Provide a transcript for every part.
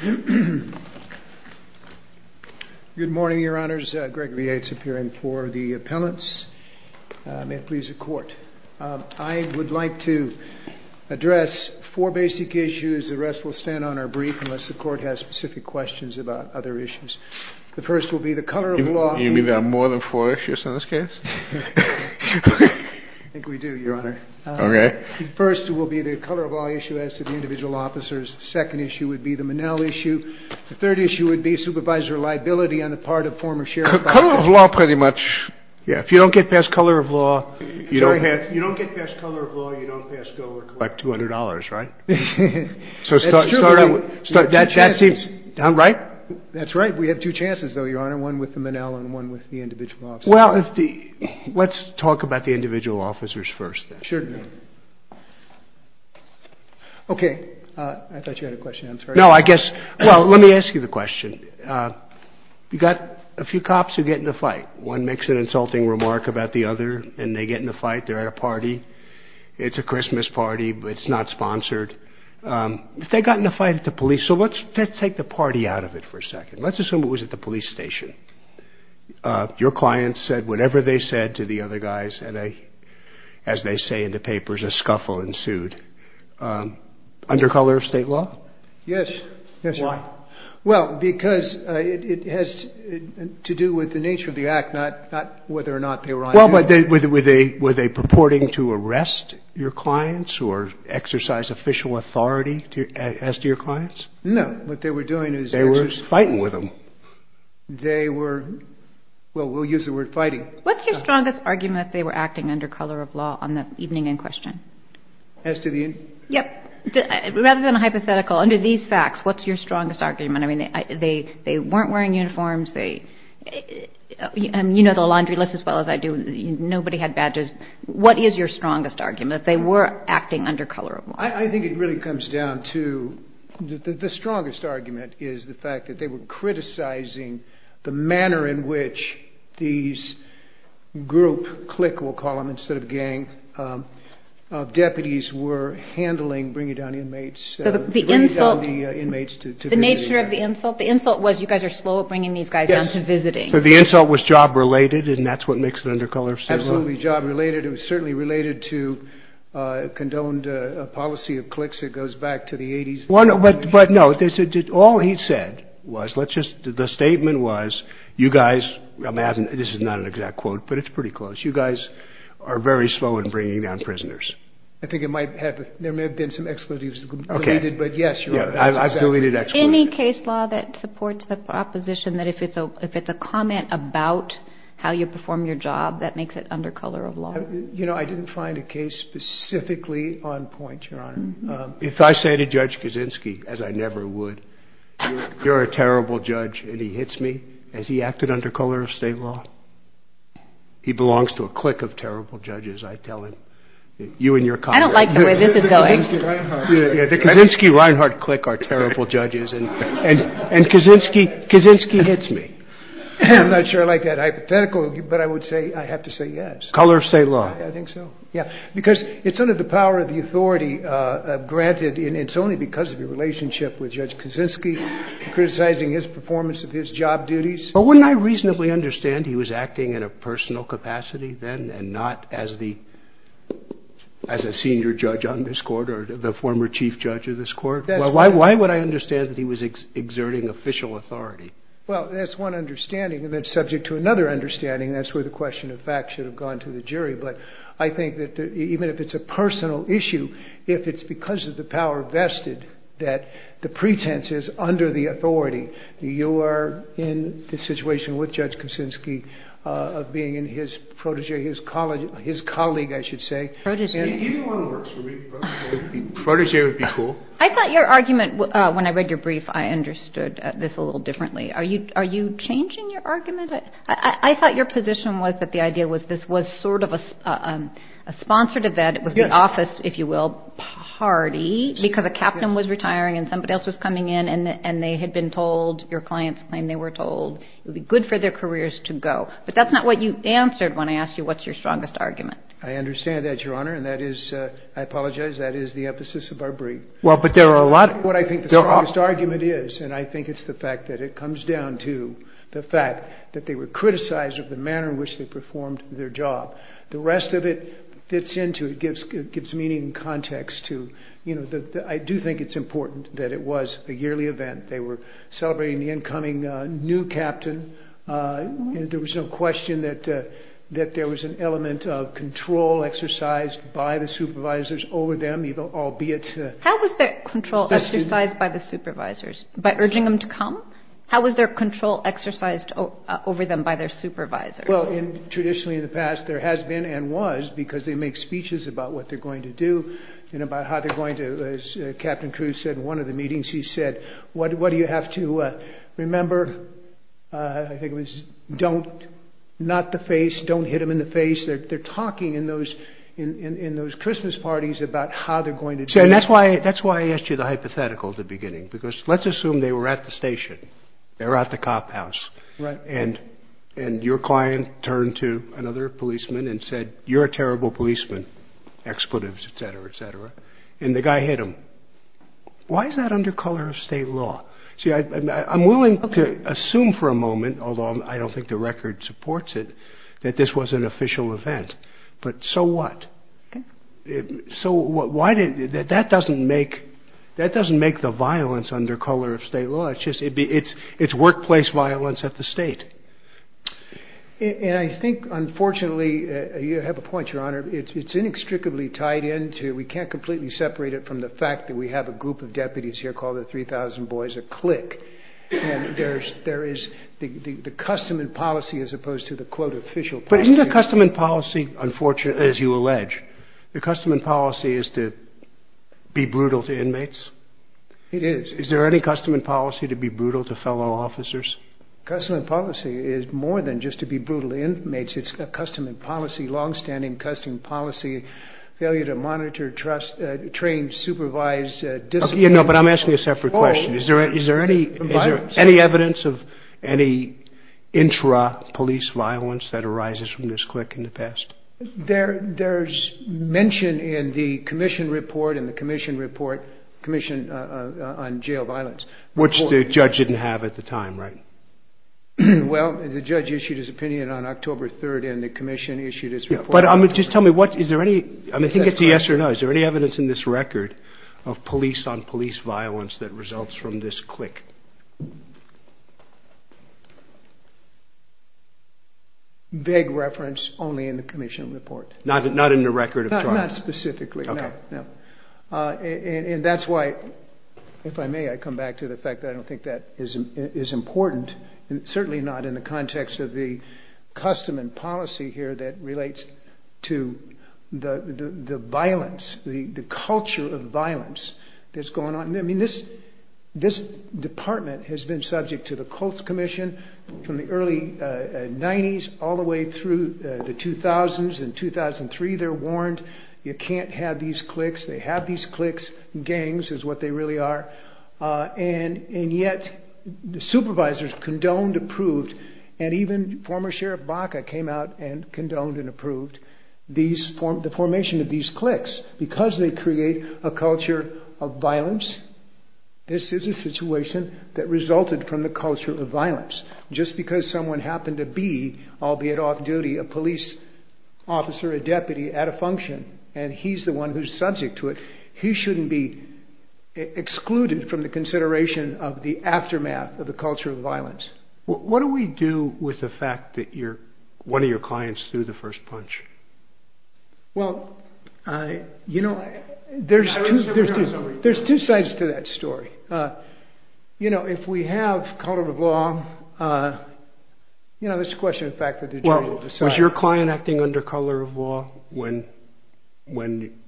Good morning, Your Honors. Gregory Yates appearing for the appellants. May it please the Court. I would like to address four basic issues. The rest will stand on our brief unless the Court has specific questions about other issues. The first will be the color of law. You mean there are more than four issues in this case? I think we do, Your Honor. Okay. The first will be the color of law issue as to the individual officers. The second issue would be the Monell issue. The third issue would be supervisor liability on the part of former sheriff. Color of law, pretty much. If you don't get past color of law, you don't pass go or collect $200, right? That's true. That seems about right. That's right. We have two chances, Your Honor. One with the Monell and one with the individual officers. Well, let's talk about the individual officers first. Sure. Okay. I thought you had a question. No, I guess, well, let me ask you the question. You've got a few cops who get in a fight. One makes an insulting remark about the other and they get in a fight. They're at a party. It's a Christmas party, but it's not sponsored. If they got in a fight at the police, so let's take the party out of it for a second. Let's assume it was at the police station. Your clients said whatever they said to the other guys. And as they say in the papers, a scuffle ensued. Under color of state law? Yes. Why? Well, because it has to do with the nature of the act, not whether or not they were on duty. Well, were they purporting to arrest your clients or exercise official authority as to your clients? No. What they were doing is... They were fighting with them. They were... Well, we'll use the word fighting. What's your strongest argument that they were acting under color of law on the evening in question? As to the... Yep. Rather than a hypothetical, under these facts, what's your strongest argument? I mean, they weren't wearing uniforms. You know the laundry list as well as I do. Nobody had badges. What is your strongest argument, that they were acting under color of law? I think it really comes down to... The strongest argument is the fact that they were criticizing the manner in which these group, CLIC we'll call them instead of gang, of deputies were handling bringing down inmates... The insult... Bringing down the inmates to visit. The nature of the insult? The insult was you guys are slow at bringing these guys down to visiting. Yes. So the insult was job related and that's what makes it under color of state law? Absolutely job related. It was certainly related to condoned policy of CLICs. It goes back to the 80s. But no, all he said was, let's just, the statement was, you guys, this is not an exact quote, but it's pretty close. You guys are very slow in bringing down prisoners. I think it might have, there may have been some exclusives. Okay. But yes, you're right. I've deleted exclusives. Any case law that supports the proposition that if it's a comment about how you perform your job, that makes it under color of law? You know, I didn't find a case specifically on point, Your Honor. If I say to Judge Kaczynski, as I never would, you're a terrible judge and he hits me, has he acted under color of state law? He belongs to a CLIC of terrible judges, I tell him. You and your colleagues. I don't like the way this is going. The Kaczynski-Reinhart CLIC are terrible judges and Kaczynski hits me. I'm not sure I like that hypothetical, but I would say, I have to say yes. Color of state law. I think so. Yeah. Because it's under the power of the authority granted and it's only because of your relationship with Judge Kaczynski, criticizing his performance of his job duties. But wouldn't I reasonably understand he was acting in a personal capacity then and not as the, as a senior judge on this court or the former chief judge of this court? Why would I understand that he was exerting official authority? Well, that's one understanding and that's subject to another understanding. That's where the question of fact should have gone to the jury. But I think that even if it's a personal issue, if it's because of the power vested that the pretense is under the authority, you are in the situation with Judge Kaczynski of being in his protégé, his colleague, his colleague, I should say. Protégé. Protégé would be cool. I thought your argument, when I read your brief, I understood this a little differently. Are you changing your argument? I thought your position was that the idea was this was sort of a sponsored event, it was the office, if you will, party, because a captain was retiring and somebody else was coming in and they had been told, your clients claimed they were told it would be good for their careers to go. But that's not what you answered when I asked you what's your strongest argument. I understand that, Your Honor, and that is, I apologize, that is the emphasis of our brief. Well, but there are a lot... What I think the strongest argument is, and I think it's the fact that it comes down to the fact that they were criticized of the manner in which they performed their job. The rest of it fits into, it gives meaning and context to, you know, I do think it's important that it was a yearly event. They were celebrating the incoming new captain. There was no question that there was an element of control exercised by the supervisors over them, albeit... How was their control exercised by the supervisors, by urging them to come? How was their control exercised over them by their supervisors? Well, traditionally in the past, there has been and was because they make speeches about what they're going to do and about how they're going to, as Captain Cruz said in one of the meetings, he said, what do you have to remember? I think it was, don't, not the face, don't hit him in the face. They're talking in those Christmas parties about how they're going to do it. And that's why I asked you the hypothetical at the beginning, because let's assume they were at the station. They're at the cop house. And your client turned to another policeman and said, you're a terrible policeman, expletives, et cetera, et cetera. And the guy hit him. Why is that under color of state law? See, I'm willing to assume for a moment, although I don't think the record supports it, that this was an official event. But so what? So why did that? That doesn't make that doesn't make the violence under color of state law. It's just it's it's workplace violence at the state. And I think, unfortunately, you have a point, Your Honor. It's inextricably tied into. We can't completely separate it from the fact that we have a group of deputies here called the three thousand boys a click. And there's there is the custom and policy as opposed to the quote official. But in the custom and policy, unfortunately, as you allege, the custom and policy is to be brutal to inmates. It is. Is there any custom and policy to be brutal to fellow officers? Custom and policy is more than just to be brutal inmates. It's a custom and policy, longstanding custom policy failure to monitor, trust, train, supervise. You know, but I'm asking a separate question. Is there is there any any evidence of any intra police violence that arises from this click in the past? There there's mention in the commission report and the commission report commission on jail violence, which the judge didn't have at the time. Right. Well, the judge issued his opinion on October 3rd and the commission issued his report. But I mean, just tell me what is there any I think it's a yes or no. Is there any evidence in this record of police on police violence that results from this click? Big reference only in the commission report, not not in the record of not specifically. And that's why, if I may, I come back to the fact that I don't think that is is important. And certainly not in the context of the custom and policy here that relates to the violence, the culture of violence that's going on. I mean, this this department has been subject to the Colts Commission from the early 90s all the way through the 2000s. In 2003, they're warned you can't have these clicks. They have these clicks. Gangs is what they really are. And and yet the supervisors condoned, approved, and even former Sheriff Baca came out and condoned and approved these formed the formation of these clicks because they create a culture of violence. This is a situation that resulted from the culture of violence. Just because someone happened to be, albeit off duty, a police officer, a deputy at a function, and he's the one who's subject to it, he shouldn't be excluded from the consideration of the aftermath of the culture of violence. What do we do with the fact that you're one of your clients through the first punch? Well, you know, there's there's there's two sides to that story. You know, if we have color of law. You know, this question, in fact, that was your client acting under color of law when when.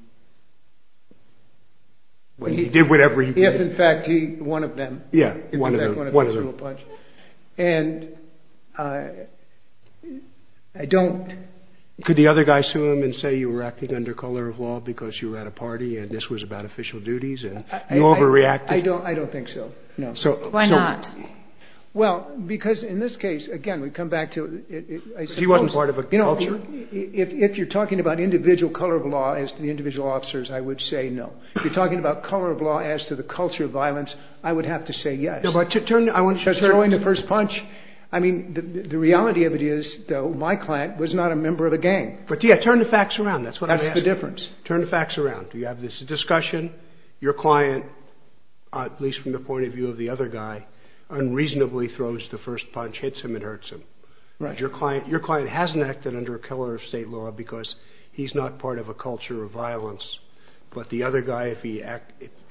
When he did whatever he did, in fact, he one of them. Yeah. One of them. One of them. And I don't. Could the other guy sue him and say you were acting under color of law because you were at a party and this was about official duties and you overreacted? I don't I don't think so. No. So why not? Well, because in this case, again, we come back to it. He wasn't part of it. You know, if you're talking about individual color of law as to the individual officers, I would say no. You're talking about color of law as to the culture of violence. I would have to say yes. But to turn. I want to start throwing the first punch. I mean, the reality of it is, though, my client was not a member of a gang. But, yeah, turn the facts around. That's what that's the difference. Turn the facts around. Do you have this discussion? Your client, at least from the point of view of the other guy, unreasonably throws the first punch, hits him and hurts him. Right. Your client, your client hasn't acted under color of state law because he's not part of a culture of violence. But the other guy, if he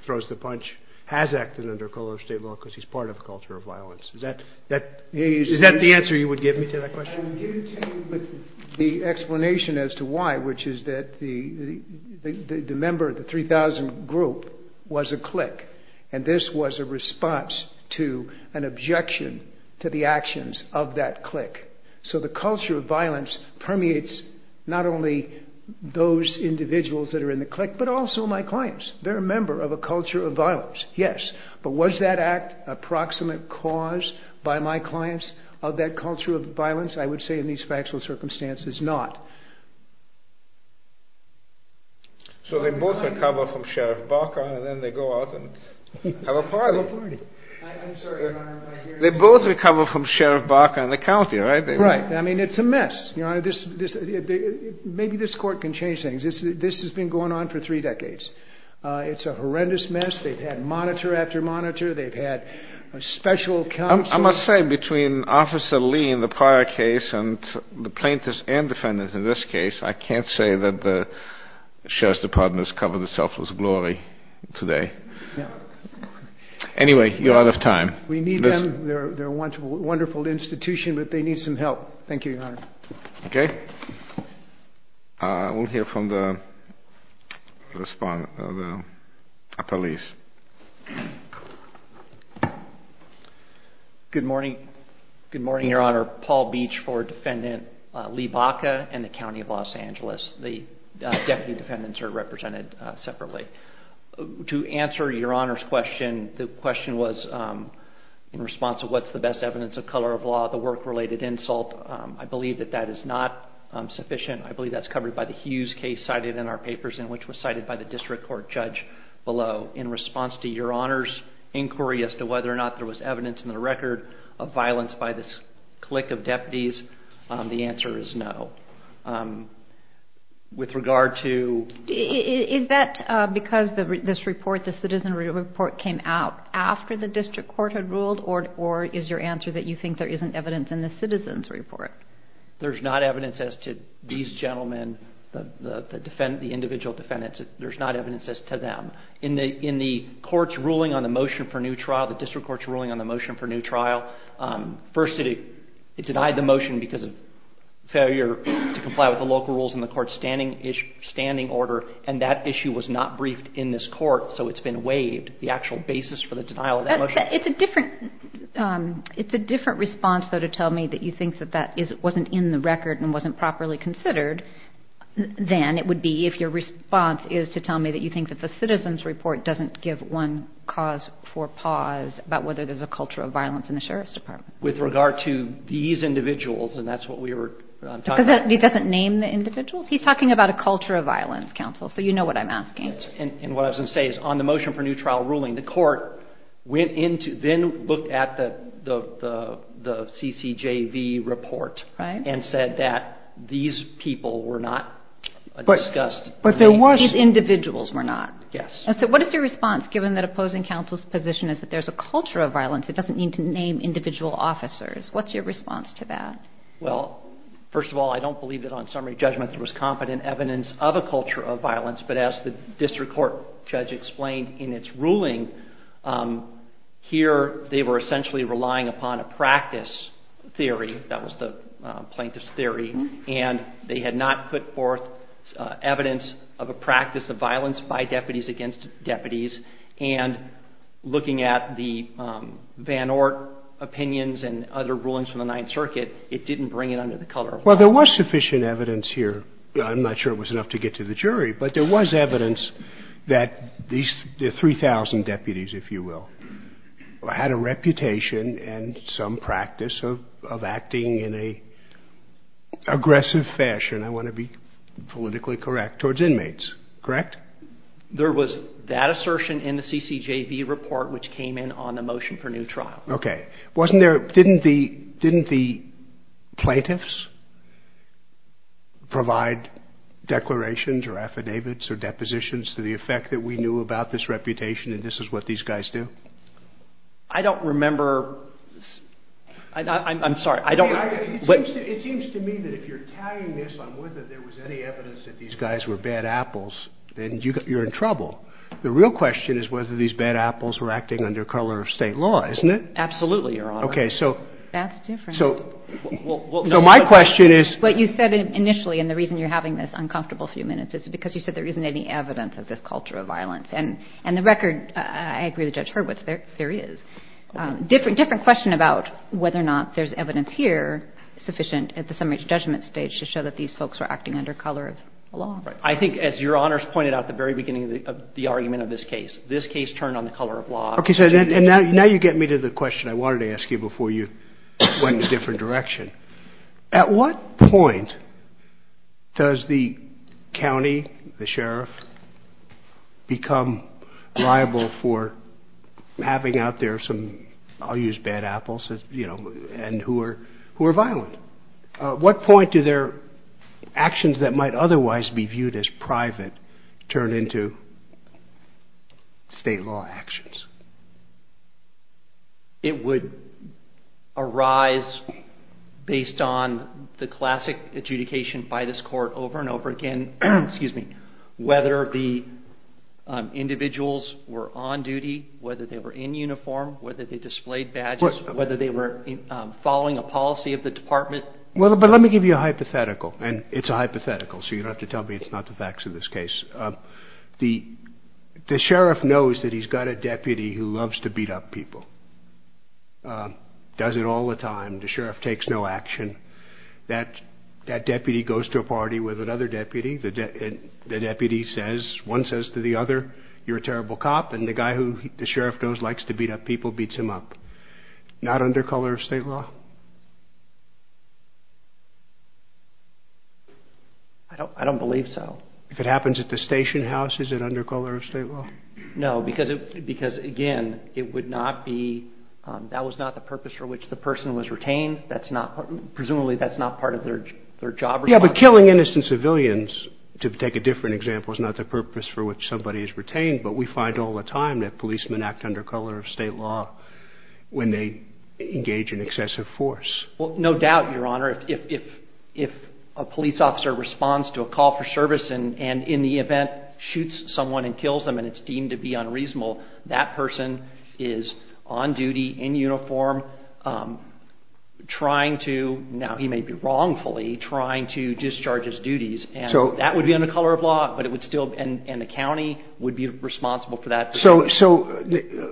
throws the punch, has acted under color of state law because he's part of a culture of violence. Is that the answer you would give me to that question? I would give you the explanation as to why, which is that the member of the 3000 group was a clique. And this was a response to an objection to the actions of that clique. So the culture of violence permeates not only those individuals that are in the clique, but also my clients. They're a member of a culture of violence. Yes. But was that act a proximate cause by my clients of that culture of violence? I would say in these factual circumstances, not. So they both recover from Sheriff Barker and then they go out and have a party. They both recover from Sheriff Barker and the county, right? Right. I mean, it's a mess. Maybe this court can change things. This has been going on for three decades. It's a horrendous mess. They've had monitor after monitor. They've had a special counsel. I must say between Officer Lee in the prior case and the plaintiffs and defendants in this case, I can't say that the Sheriff's Department has covered itself with glory today. Anyway, you're out of time. We need them. They're a wonderful, wonderful institution, but they need some help. Thank you, Your Honor. Okay. We'll hear from the police. Good morning. Good morning, Your Honor. Paul Beach for Defendant Lee Baca and the County of Los Angeles. The deputy defendants are represented separately. To answer Your Honor's question, the question was in response to what's the best evidence of color of law, the work-related insult, I believe that that is not sufficient. I believe that's covered by the Hughes case cited in our papers and which was cited by the district court judge below. In response to Your Honor's inquiry as to whether or not there was evidence in the record of violence by this clique of deputies, the answer is no. With regard to- Is that because this report, the citizenry report came out after the district court had ruled or is your answer that you think there isn't evidence in the citizen's report? There's not evidence as to these gentlemen, the individual defendants. There's not evidence as to them. In the court's ruling on the motion for new trial, the district court's ruling on the motion for new trial, first it denied the motion because of failure to comply with the local rules in the court's standing order, and that issue was not briefed in this court, so it's been waived. The actual basis for the denial of that motion- It's a different response, though, to tell me that you think that that wasn't in the record and wasn't properly considered than it would be if your response is to tell me that you think that the citizen's report doesn't give one cause for pause about whether there's a culture of violence in the Sheriff's Department. With regard to these individuals, and that's what we were talking about- Because he doesn't name the individuals. He's talking about a culture of violence, counsel, so you know what I'm asking. Yes, and what I was going to say is on the motion for new trial ruling, the court went into, then looked at the CCJV report- Right. And said that these people were not discussed- But there was- These individuals were not. Yes. So what is your response, given that opposing counsel's position is that there's a culture of violence, it doesn't need to name individual officers? What's your response to that? Well, first of all, I don't believe that on summary judgment there was competent evidence of a culture of violence, but as the district court judge explained in its ruling, here they were essentially relying upon a practice theory, that was the plaintiff's theory, and they had not put forth evidence of a practice of violence by deputies against deputies, and looking at the Van Ork opinions and other rulings from the Ninth Circuit, it didn't bring it under the color of violence. Well, there was sufficient evidence here. I'm not sure it was enough to get to the jury, but there was evidence that these 3,000 deputies, if you will, had a reputation and some practice of acting in an aggressive fashion, I want to be politically correct, towards inmates. Correct? There was that assertion in the CCJV report which came in on the motion for new trial. Okay. Didn't the plaintiffs provide declarations or affidavits or depositions to the effect that we knew about this reputation and this is what these guys do? I don't remember. I'm sorry. It seems to me that if you're tagging this on whether there was any evidence that these guys were bad apples, then you're in trouble. The real question is whether these bad apples were acting under color of state law, isn't it? Absolutely, Your Honor. Okay. That's different. So my question is... What you said initially and the reason you're having this uncomfortable few minutes is because you said there isn't any evidence of this culture of violence. And the record, I agree with Judge Hurwitz, there is. Different question about whether or not there's evidence here sufficient at the summary judgment stage to show that these folks were acting under color of law. I think as Your Honor has pointed out at the very beginning of the argument of this case, this case turned on the color of law. Okay. And now you get me to the question I wanted to ask you before you went in a different direction. At what point does the county, the sheriff, become liable for having out there some, I'll use bad apples, you know, and who are violent? What point do their actions that might otherwise be viewed as private turn into state law actions? It would arise based on the classic adjudication by this court over and over again, whether the individuals were on duty, whether they were in uniform, whether they displayed badges, whether they were following a policy of the department. Well, but let me give you a hypothetical, and it's a hypothetical, so you don't have to tell me it's not the facts of this case. The sheriff knows that he's got a deputy who loves to beat up people, does it all the time. The sheriff takes no action. That deputy goes to a party with another deputy. The deputy says, one says to the other, you're a terrible cop, and the guy who the sheriff knows likes to beat up people beats him up. Not under color of state law? I don't believe so. If it happens at the station house, is it under color of state law? No, because, again, it would not be, that was not the purpose for which the person was retained. Presumably that's not part of their job. Yeah, but killing innocent civilians, to take a different example, was not the purpose for which somebody is retained, but we find all the time that policemen act under color of state law when they engage in excessive force. Well, no doubt, Your Honor, if a police officer responds to a call for service and in the event shoots someone and kills them and it's deemed to be unreasonable, that person is on duty, in uniform, trying to, now he may be wrongfully, trying to discharge his duties, and that would be under color of law, but it would still, and the county would be responsible for that. So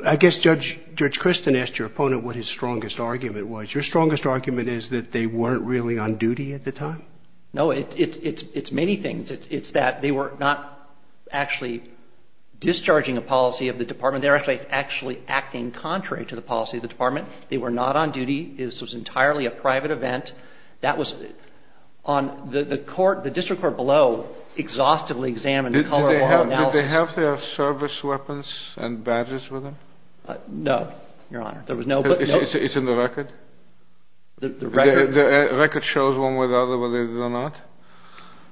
I guess Judge Christin asked your opponent what his strongest argument was. Your strongest argument is that they weren't really on duty at the time? No, it's many things. It's that they were not actually discharging a policy of the department. They were actually acting contrary to the policy of the department. They were not on duty. This was entirely a private event. That was on the court, the district court below exhaustively examined the color of law analysis. Did they have their service weapons and badges with them? No, Your Honor. There was no. It's in the record? The record shows one way or the other whether they did or not.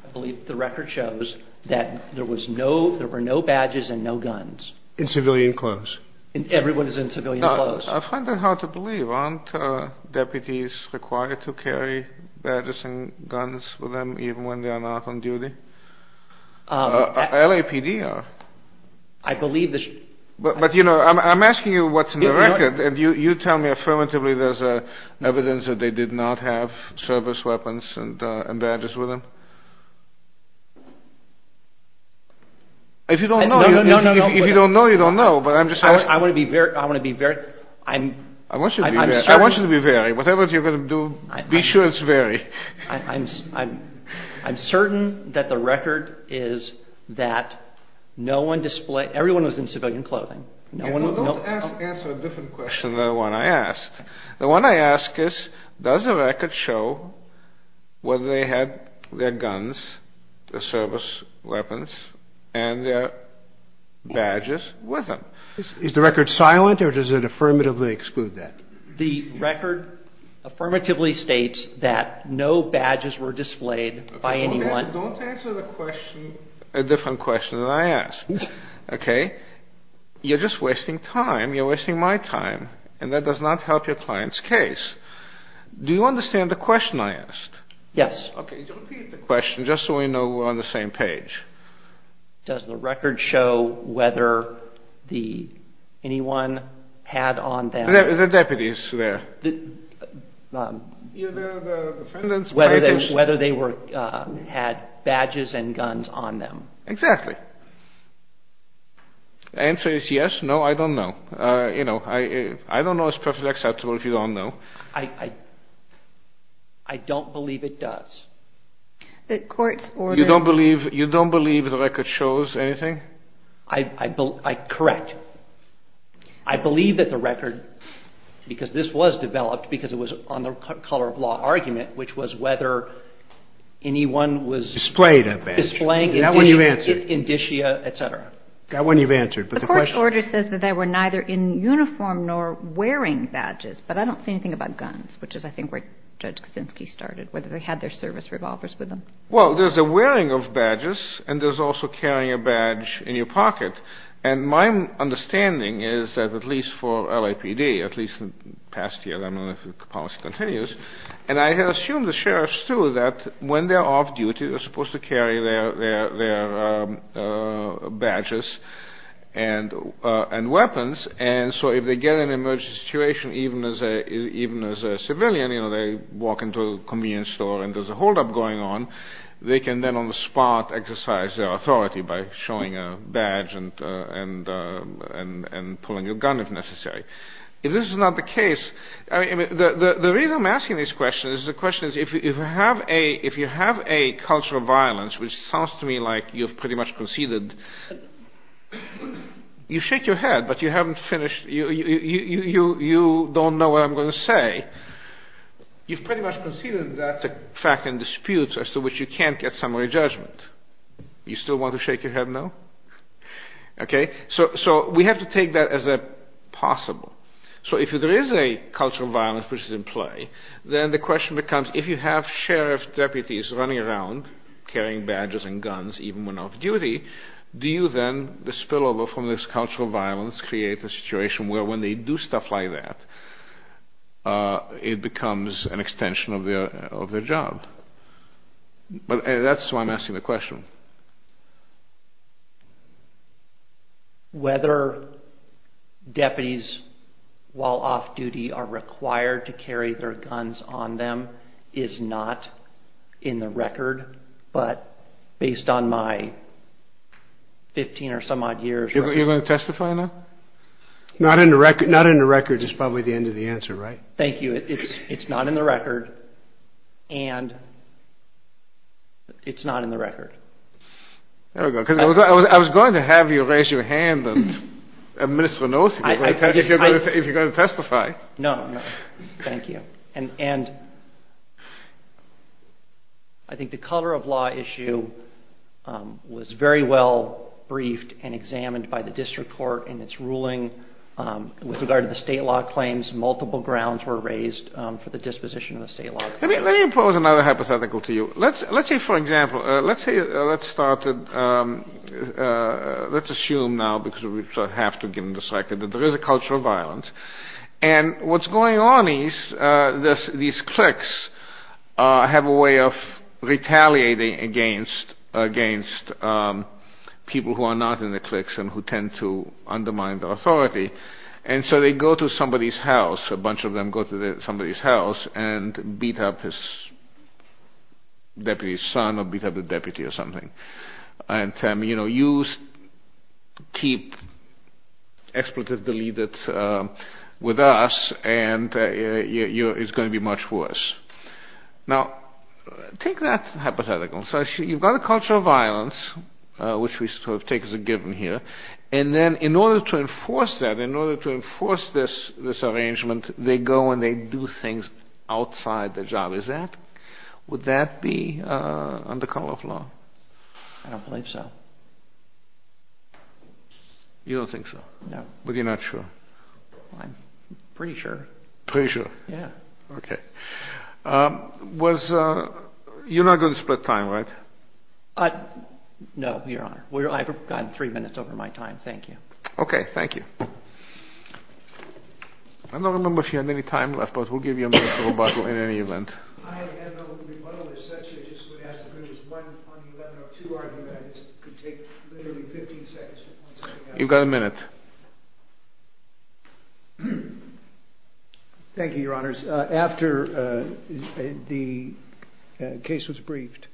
I believe the record shows that there was no, there were no badges and no guns. In civilian clothes. Everyone is in civilian clothes. I find that hard to believe. Aren't deputies required to carry badges and guns with them even when they are not on duty? LAPD are. I believe this. But, you know, I'm asking you what's in the record, and you tell me affirmatively there's evidence that they did not have service weapons and badges with them. If you don't know, you don't know, but I'm just asking. I want to be very, I want to be very. I want you to be very. Whatever you're going to do, be sure it's very. I'm certain that the record is that no one displayed, everyone was in civilian clothing. Don't answer a different question than the one I asked. The one I asked is does the record show whether they had their guns, their service weapons, and their badges with them? Is the record silent or does it affirmatively exclude that? The record affirmatively states that no badges were displayed by anyone. Don't answer the question, a different question than I asked. Okay? You're just wasting time. You're wasting my time, and that does not help your client's case. Do you understand the question I asked? Yes. Okay. Repeat the question just so we know we're on the same page. Does the record show whether anyone had on them. The deputies there. Whether they had badges and guns on them. Exactly. The answer is yes, no, I don't know. You know, I don't know is perfectly acceptable if you don't know. I don't believe it does. The court's order. You don't believe the record shows anything? Correct. I believe that the record, because this was developed, because it was on the color of law argument, which was whether anyone was. Displayed a badge. Displaying. That one you've answered. Indicia, et cetera. That one you've answered. But the question. The court's order says that they were neither in uniform nor wearing badges, but I don't see anything about guns, which is I think where Judge Kaczynski started. Whether they had their service revolvers with them. Well, there's a wearing of badges, and there's also carrying a badge in your pocket. And my understanding is that at least for LAPD, at least in the past year, I don't know if the policy continues. And I assume the sheriffs, too, that when they're off duty, they're supposed to carry their badges and weapons. And so if they get in an emergency situation, even as a civilian, you know, they walk into a convenience store and there's a holdup going on, they can then on the spot exercise their authority by showing a badge and pulling a gun if necessary. If this is not the case, I mean, the reason I'm asking this question is the question is if you have a cultural violence, which sounds to me like you've pretty much conceded. You shake your head, but you haven't finished. You don't know what I'm going to say. You've pretty much conceded that's a fact in dispute as to which you can't get summary judgment. You still want to shake your head no? Okay. So we have to take that as a possible. So if there is a cultural violence which is in play, then the question becomes if you have sheriff deputies running around carrying badges and guns, even when off duty, do you then, the spillover from this cultural violence, create a situation where when they do stuff like that, it becomes an extension of their job? That's why I'm asking the question. Whether deputies while off duty are required to carry their guns on them is not in the record, but based on my 15 or some odd years. You're going to testify now? Not in the record is probably the end of the answer, right? Thank you. It's not in the record, and it's not in the record. There we go. I was going to have you raise your hand and administer a notice if you're going to testify. No, no. Thank you. And I think the color of law issue was very well briefed and examined by the district court in its ruling with regard to the state law claims. Multiple grounds were raised for the disposition of the state law. Let me impose another hypothetical to you. Let's say, for example, let's assume now, because we have to get into the circuit, that there is a culture of violence, and what's going on is these clerks have a way of retaliating against people who are not in the clerks and who tend to undermine their authority, and so they go to somebody's house. A bunch of them go to somebody's house and beat up the deputy's son or beat up the deputy or something, and tell him, you know, you keep expletive deleted with us and it's going to be much worse. Now, take that hypothetical. So you've got a culture of violence, which we sort of take as a given here, and then in order to enforce that, in order to enforce this arrangement, they go and they do things outside the job. Is that, would that be under color of law? I don't believe so. You don't think so? No. But you're not sure? I'm pretty sure. Pretty sure? Yeah. Okay. You're not going to split time, right? No, Your Honor. I've gotten three minutes over my time. Thank you. Okay. Thank you. I don't remember if you had any time left, but we'll give you a minute to rebuttal in any event. I have no rebuttal. As Satchel just would ask, there was one on the 11.02 argument. It could take literally 15 seconds to point something out. You've got a minute. Thank you, Your Honors. After the case was briefed,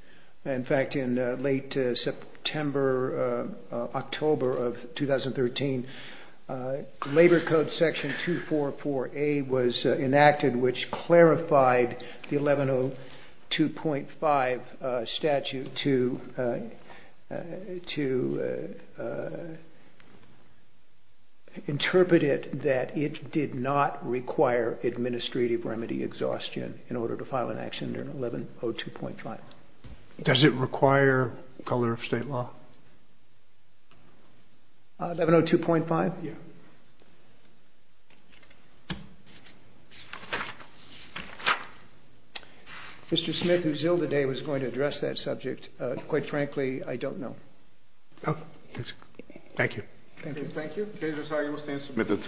in fact, in late September, October of 2013, Labor Code Section 244A was enacted, which clarified the 11.02.5 statute to interpret it that it did not require administrative remedy exhaustion in order to file an action under 11.02.5. Does it require color of state law? 11.02.5? Yeah. Mr. Smith, who's ill today, was going to address that subject. Quite frankly, I don't know. Oh, that's good. Thank you. Thank you. Thank you. Okay.